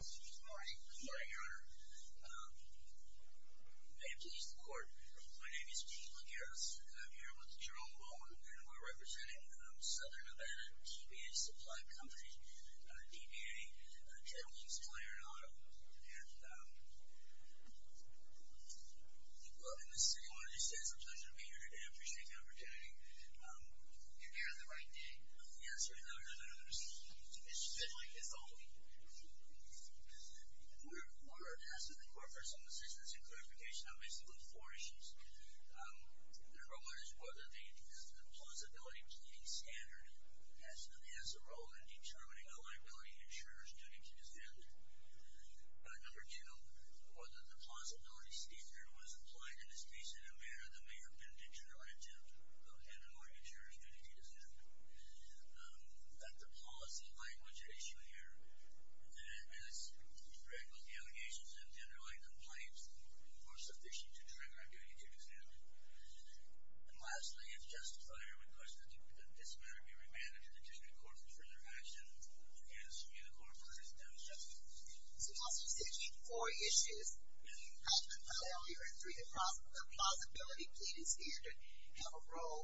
Good morning, your honor. May it please the court, my name is Steve Lagueras. I'm here with Jerome Bowen, and we're representing Southern Nevada TBA Supply Company, TBA, a trailblazing supplier in Ottawa. And Mr. City Manager says it's a pleasure to be here today. I appreciate the opportunity. You're here on the right day. The answer is no, your honor. It's been like this all week. The court of order asks that the court make some decisions in clarification on basically four issues. Number one is whether the plausibility pleading standard has a role in determining a liability insurer's duty to defend. Number two, whether the plausibility standard was applied in a case in a manner that may have been dictated on intent of an insurer's duty to defend. That the policy language at issue here, as with the allegations and the underlying complaints, were sufficient to trigger a duty to defend. And lastly, if justified, I request that this matter be remanded to the district court for further action. Yes, your honor, the court has done so. So, Mr. City Manager, four issues. Yes, your honor. I only heard three. The plausibility pleading standard have a role,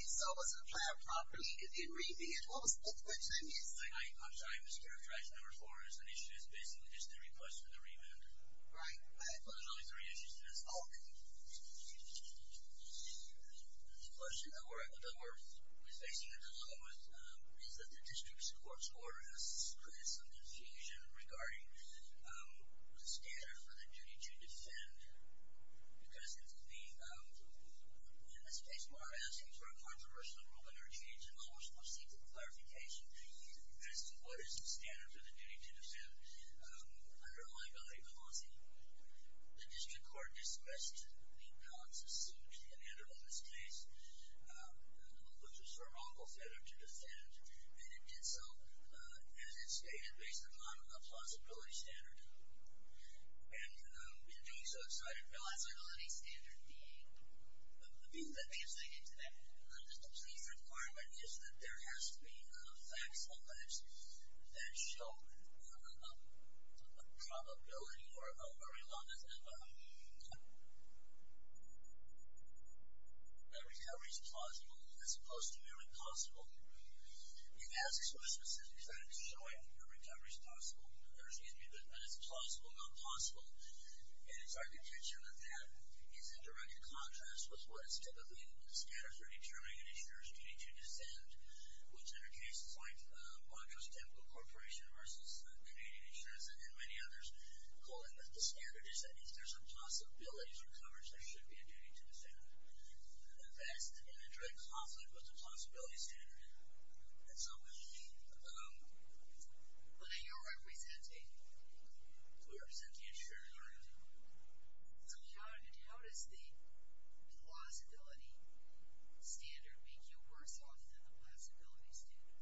if so, was it applied properly, and then remanded. What time is it? I'm sorry, Mr. Chair. Track number four is an issue that's basically just a request for the remand. Right. There's only three issues to this. Okay. The question that we're facing a problem with is that the district court's order has created some confusion regarding the standard for the duty to defend. Because it's the, in this case, we're asking for a controversial rule in our change in law. We're supposed to seek the clarification as to what is the standard for the duty to defend underlying a liability policy. The district court dismissed the balance of suit enacted on this case, which was for Runklefeder to defend. And it did so, as it stated, based upon a plausibility standard. And in doing so, it cited a plausibility standard being, the thing that they have said, The police requirement is that there has to be facts alleged that show a probability or a very long, a recovery's plausible as opposed to merely plausible. It asks for a specific fact showing a recovery's plausible. There's usually, but it's plausible, not plausible. And it's our contention that that is in direct contrast with what is typically the standard for determining an insurer's duty to defend, which in a case like Montrose-Temple Corporation versus Canadian Insurance and many others, calling that the standard is that if there's a possibility for coverage, there should be a duty to defend. That's in direct conflict with the plausibility standard. And so, What are you representing? We represent the insurer. So, how does the plausibility standard make you worse off than the plausibility standard?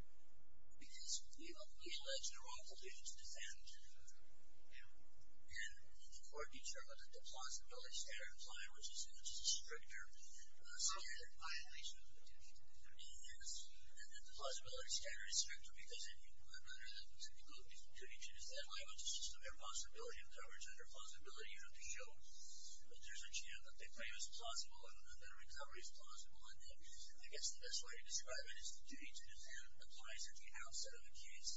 Because we elect Runklefeder to defend. Yeah. And the court determined that the plausibility standard applied, which is a stricter standard. Violation of the duty to defend. Yes. And that the plausibility standard is stricter because under the typical duty to defend language, it's just a mere possibility of coverage under plausibility. You don't have to show that there's a chance that the claim is plausible and that a recovery is plausible. And I guess the best way to describe it is the duty to defend applies at the outset of the case,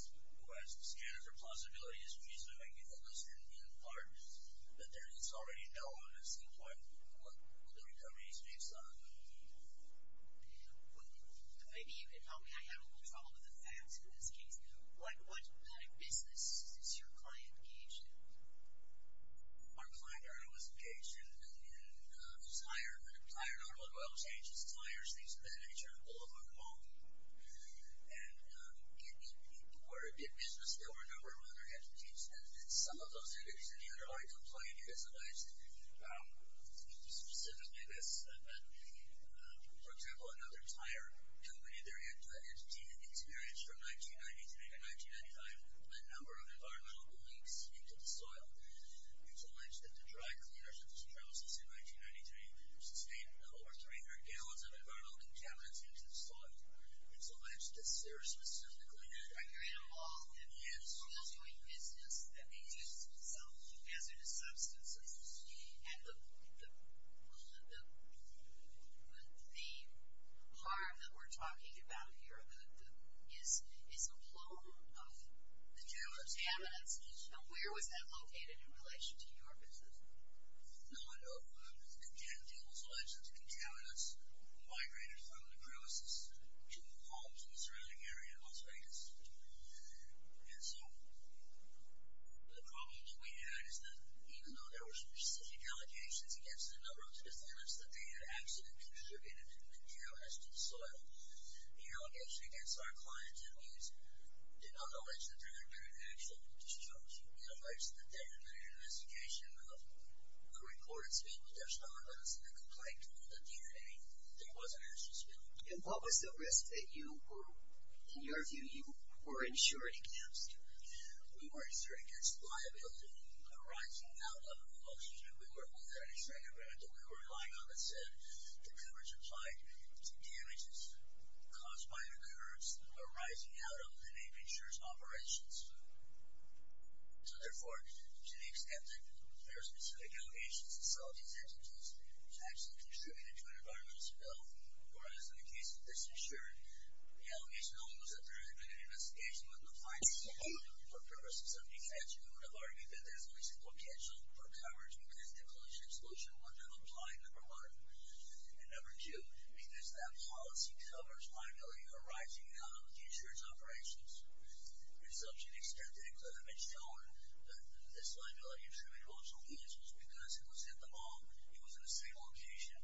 whereas the standard for plausibility is presuming, at least in part, that it's already known at some point what the recovery is based on. Maybe you can help me. I have a little trouble with the facts in this case. What kind of business is your client engaged in? Our client earlier was engaged in tire, tire and automobile changes, tires, things of that nature, all over the mall. And it was a big business. There were a number of other entities. And some of those entities that he had are already complained. He has alleged specifically this, that, for example, another tire company, their entity had experienced from 1993 to 1995 a number of environmental leaks into the soil. It's alleged that the dry cleaners at this premises in 1993 sustained over 300 gallons of environmental contaminants into the soil. It's alleged that Sarah specifically had accurate… Yes. …doing business that they used some hazardous substances. And the harm that we're talking about here is a plume of contaminants. Yes. Now, where was that located in relation to your business? No, no. The entity was alleged that the contaminants migrated from the premises to homes in the surrounding area in Las Vegas. And so the problem that we had is that even though there were specific allegations against a number of the defendants that they had accidentally contributed contaminants to the soil, the allegation against our client did not allege that there had been an actual discharge. It alleges that they had been in an investigation of a reported spill, but there's no evidence in the complaint that there was an actual spill. And what was the risk that you were, in your view, you were insuring against? We were insuring against liability arising out of emulsions. We weren't insuring against it. We were relying on, as I said, the coverage applied to damages caused by an occurrence arising out of the name insurer's operations. So, therefore, to the extent that there are specific allegations to sell these entities to actually contribute to an environmental spill, whereas in the case of this insurer, the allegation only was that there had been an investigation with no findings for purposes of defense, we would have argued that there's only simple potential for coverage because the collision and explosion would not apply, number one. And number two, because that policy covers liability arising out of the insurer's operations, to such an extent that it could have been shown that this liability attributed to emulsions because it was at the mall, it was in the same location,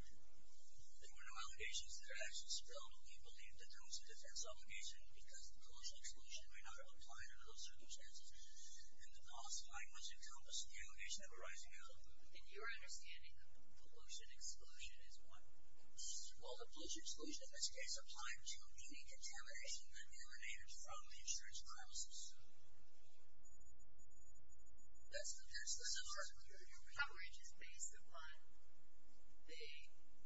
there were no allegations that it actually spilled. We believed that there was a defense obligation because the collision and explosion may not have applied under those circumstances. And the policy findings encompassed the allegation of arising out of Well, the pollution exclusion, in this case, applied to any contamination that emanated from the insurer's premises. That's the difference. Your coverage is based upon the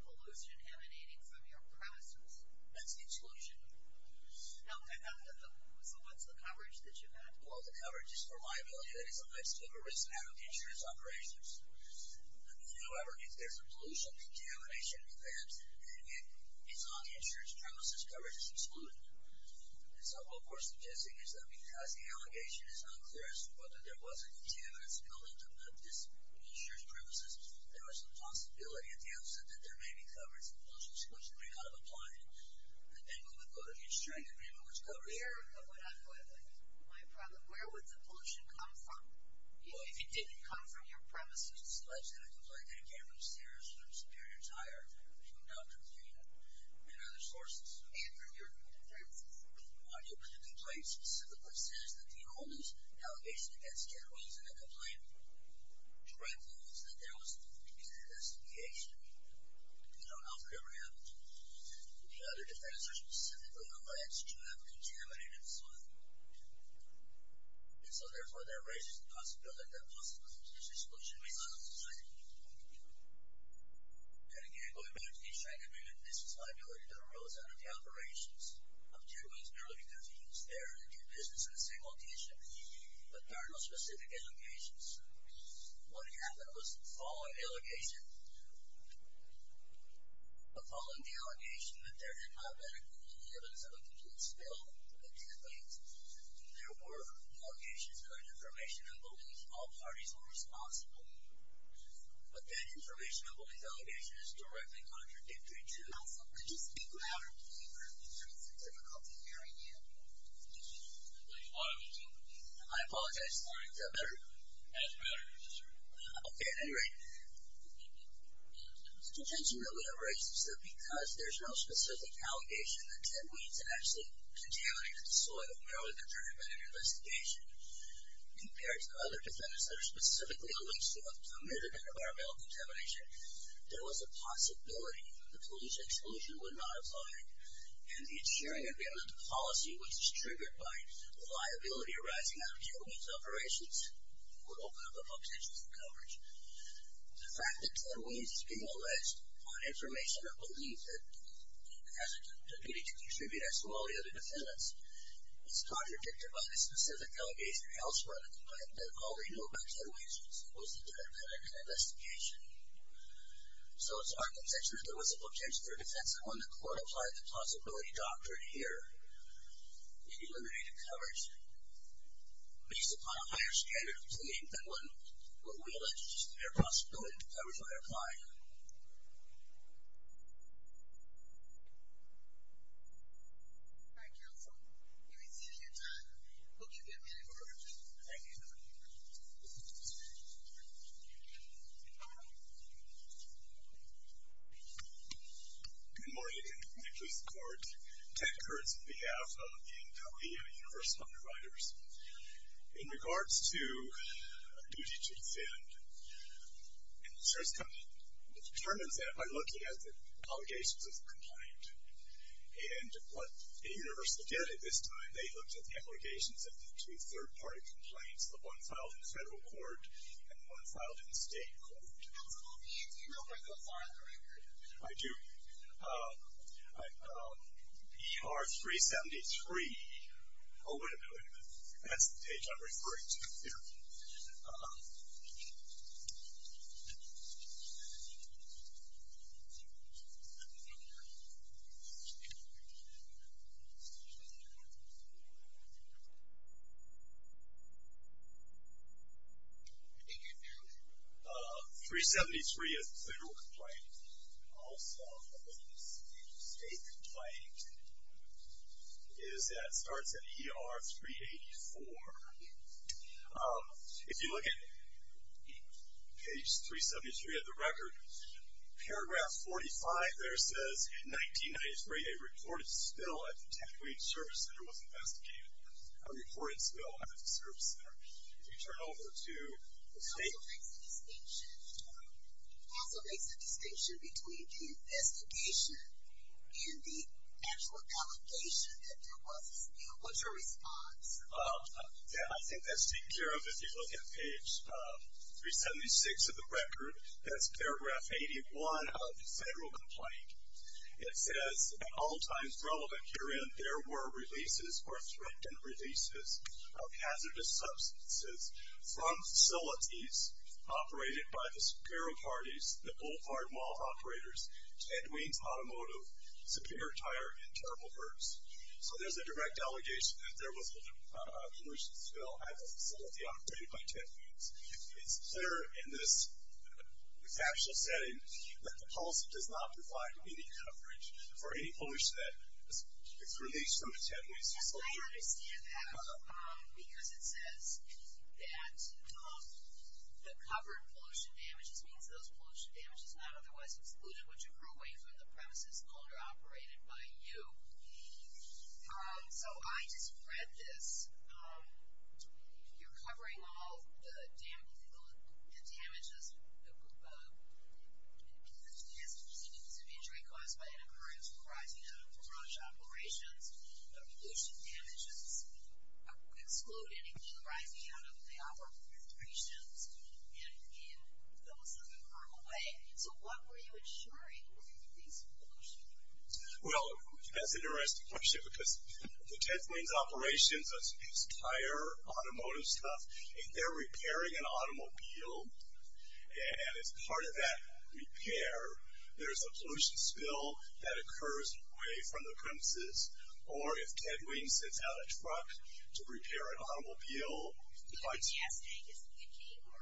pollution emanating from your premises. That's the exclusion. So what's the coverage that you have? Well, the coverage is for liability that is alleged to have arisen out of the insurer's operations. However, if there's a pollution contamination event and it's on the insurer's premises, coverage is excluded. And so what we're suggesting is that because the allegation is unclear as to whether there was a contaminant spilled into this insurer's premises, there was a possibility at the outset that there may be coverage. The pollution exclusion may not have applied. And then we would go to the insurance agreement, which covers it. Where would the pollution come from? Well, if it didn't come from your premises, it's alleged in a complaint that it came from Sears, from Superior Tire, from Dr. Pena, and other sources. And your complaint specifically says that the only allegation against you is in the complaint. The right thing is that there was an investigation. We don't know if it ever happened. The other defenders specifically allege to have contaminated soil. And so, therefore, that raises the possibility that possible pollution exclusion may not have been cited. And again, going back to the insurance agreement, this is liability that arose out of the operations. Objectively, it's merely because he was there and did business in the same location. But there are no specific allegations. What had happened was, following the allegation, following the allegation that there had not been any evidence of a complete spill in 10 weeks, there were allegations that are information and believe all parties were responsible. But that information and belief allegation is directly contradictory to... I apologize. Is that better? Okay. At any rate, the contention that we have raised is that because there's no specific allegation that Ted Weems actually contaminated the soil, merely that there had been an investigation, compared to other defendants that are specifically alleged to have committed an environmental contamination, there was a possibility that the pollution exclusion would not apply. And the insuring agreement, the policy, which is triggered by liability arising out of Ted Weems' operations would open up a potential for coverage. The fact that Ted Weems is being alleged on information or belief that has a duty to contribute as to all the other defendants is contradicted by the specific allegation elsewhere in the complaint that all we know about Ted Weems was that there had been an investigation. So it's our conception that there was a potential for a defense and when the court applied the possibility doctrine here, it eliminated coverage. Based upon a higher standard of cleaning than when we alleged there was a possibility that was what they're applying. All right, counsel, you may cease your time. I hope you get many more questions. Thank you. Good morning. Nicholas Cort, Ted Kurtz, on behalf of the NWU Universal Providers. In regards to duty to defend, insurance company determines that by looking at the allegations of the complaint. And what Universal did at this time, they looked at the allegations of the two third-party complaints, the one filed in federal court and the one filed in state court. I do. ER-373. Oh, wait a minute. That's the page I'm referring to. Yeah. 373 is a federal complaint. Also, a state complaint is that it starts at ER-384. If you look at page 373 of the record, paragraph 45 there says, in 1993, a reported spill at the Tech Week Service Center was investigated. A reported spill at the service center. If you turn over to the state. Counsel makes a distinction. Counsel makes a distinction between the investigation and the actual allegation that there was a spill. What's your response? Yeah, I think that's taken care of. If you look at page 376 of the record, that's paragraph 81 of the federal complaint. It says, at all times relevant herein, there were releases or threatened releases of hazardous substances from facilities operated by the superior parties, the Boulevard Mall operators, Ted Wien's Automotive, Superior Tire, and Terrible Herbs. So there's a direct allegation that there was a pollution spill at the facility operated by Ted Wien's. It's clear in this factual setting that the policy does not provide any coverage for any pollution that is released from the Ted Wien's facility. Yes, I understand that. Because it says that the covered pollution damages means those pollution damages not otherwise excluded which accrue away from the premises owned or operated by you. So I just read this. You're covering all the damages. It has to do with an injury caused by an occurrence arising out of large operations. The pollution damages exclude anything arising out of the operations and in those that accrue away. So what were you insuring with these pollution damages? Well, that's an interesting question because the Ted Wien's operations, those tire automotive stuff, they're repairing an automobile. And as part of that repair, there's a pollution spill that occurs away from the premises. Or if Ted Wien sends out a truck to repair an automobile,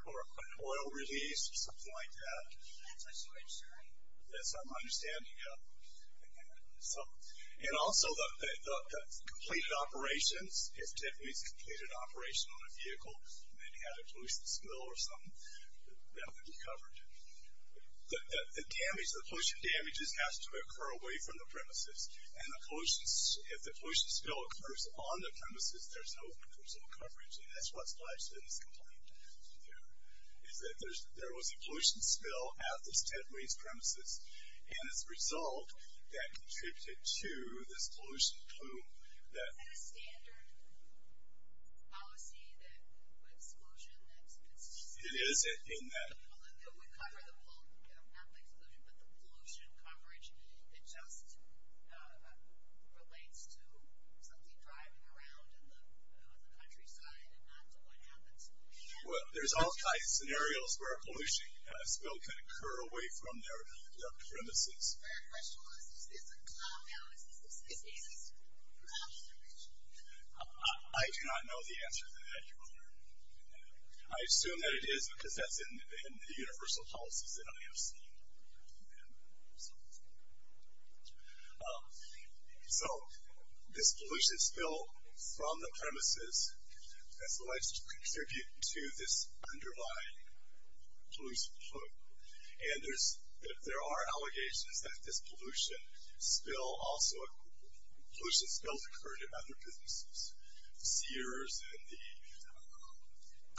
or an oil release or something like that. That's what you're insuring. That's what I'm understanding, yeah. And also the completed operations, if Ted Wien's completed an operation on a vehicle and then had a pollution spill or something, that would be covered. The pollution damages has to occur away from the premises. And if the pollution spill occurs on the premises, there's no coverage. And that's why I said it's complete. There was a pollution spill at this Ted Wien's premises. And as a result, that contributed to this pollution plume. Isn't that a standard policy that with exclusion, that it would cover the whole, not the exclusion, but the pollution coverage that just relates to something driving around in the countryside and not to what happens? Well, there's all kinds of scenarios where a pollution spill can occur away from their premises. My question was, is this a cloud analysis? Is this an observation? I do not know the answer to that, Your Honor. I assume that it is because that's in the universal policies that I have seen. So... So this pollution spill from the premises has alleged to contribute to this underlying pollution plume. And there are allegations that this pollution spill also... pollution spills occurred in other businesses. The Sears and the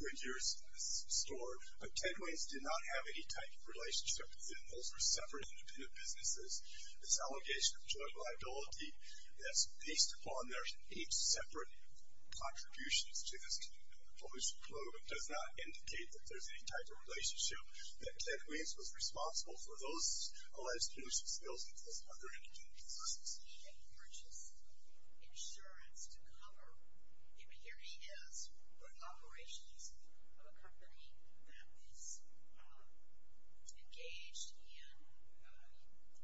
Goodyear store. But Ted Wien's did not have any type of relationship with them. Those were separate, independent businesses. This allegation of drug liability that's based upon their eight separate contributions to this pollution plume does not indicate that there's any type of relationship, that Ted Wien's was responsible for those alleged pollution spills and those other indicators. He purchased insurance to cover, Here he is running operations of a company that is engaged in the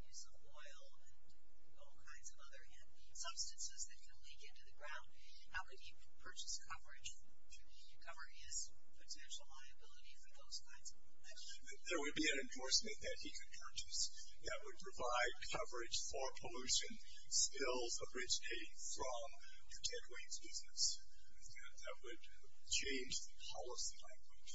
use of oil and all kinds of other substances that can leak into the ground. How could he purchase coverage to cover his potential liability for those kinds of events? There would be an endorsement that he could purchase that would provide coverage for pollution spills originating from Ted Wien's business. That would change the policy language.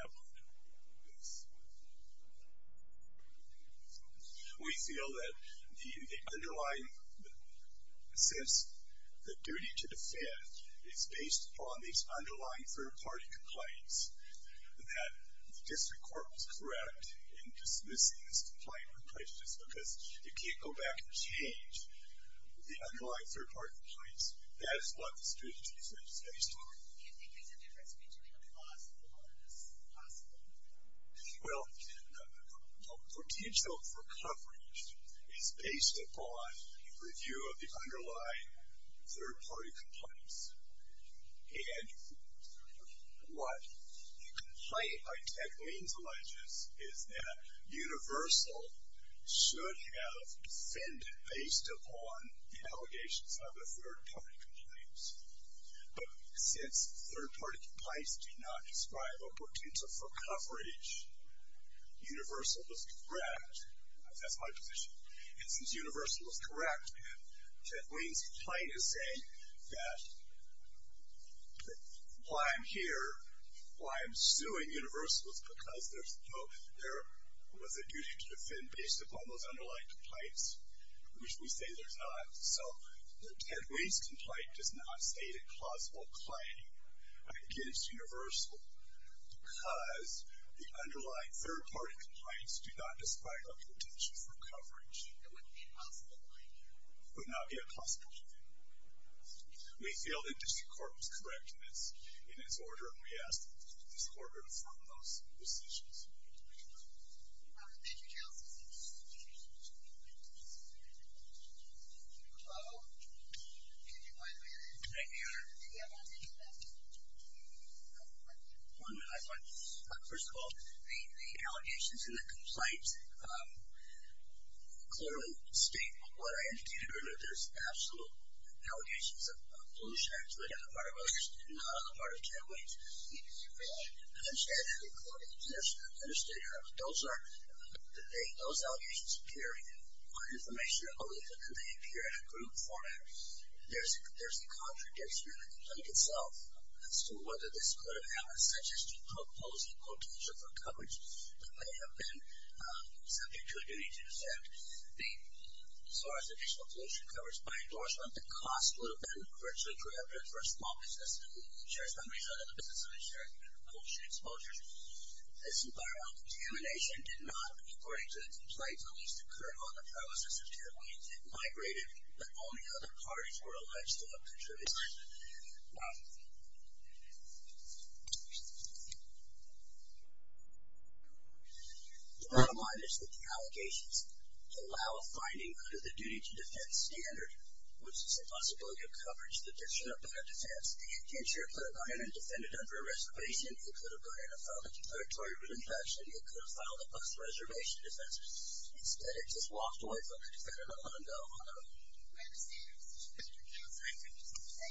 We feel that the underlying... since the duty to defend is based upon these underlying third-party complaints, that the district court was correct in dismissing this complaint just because you can't go back and change the underlying third-party complaints. That is what this duty to defend is based upon. Do you think there's a difference between a possible and a possible? Well, the potential for coverage is based upon review of the underlying third-party complaints. And what you can find by Ted Wien's alleges is that Universal should have defended based upon allegations of the third-party complaints. But since third-party complaints do not describe a potential for coverage, Universal was correct. That's my position. And since Universal was correct, Ted Wien's complaint is saying that... why I'm here, why I'm suing Universal is because there was a duty to defend based upon those underlying complaints, which we say there's not. So Ted Wien's complaint does not state a plausible claim against Universal because the underlying third-party complaints do not describe a potential for coverage. It would not be a possible claim. It would not be a possible claim. We feel the district court was correct in its order, and we ask that it be disordered from those decisions. Thank you. Thank you, counsel. Hello? Can you find me on this? I can. Do you have one minute left? One minute left. First of all, the allegations in the complaint clearly state what I indicated earlier. There's absolute allegations of pollution, actually, not on the part of Ted Wien. I understand that. I understand that. Those allegations appear in court information only if they appear in a group format. There's a contradiction in the complaint itself as to whether this could have happened, such as to propose equal danger for coverage that may have been subject to a duty to defend. As far as additional pollution coverage by endorsement, the cost would have been virtually prohibitive for a small business that shares companies that are in the business of ensuring pollution exposure. This environmental contamination did not, according to the complaint, at least occur on the premises of Ted Wien. It migrated, but only other parties were alleged to have contributed to it. The bottom line is that the allegations allow a finding under the duty to defend standard, which is a possibility of coverage that did show up in a defense. In short, it could have gone ahead and defended under a reservation. It could have gone ahead and filed a declaratory written action. It could have filed a bus reservation defense. Instead, it just walked away from the defendant and let him go. I don't know. We understand your position, Mr. Counselor. Thank you. Thank you. Thank you. Thank you. Thank you. Thank you. Thank you. Thank you. Thank you. Thank you. Thank you. Thank you. Thank you.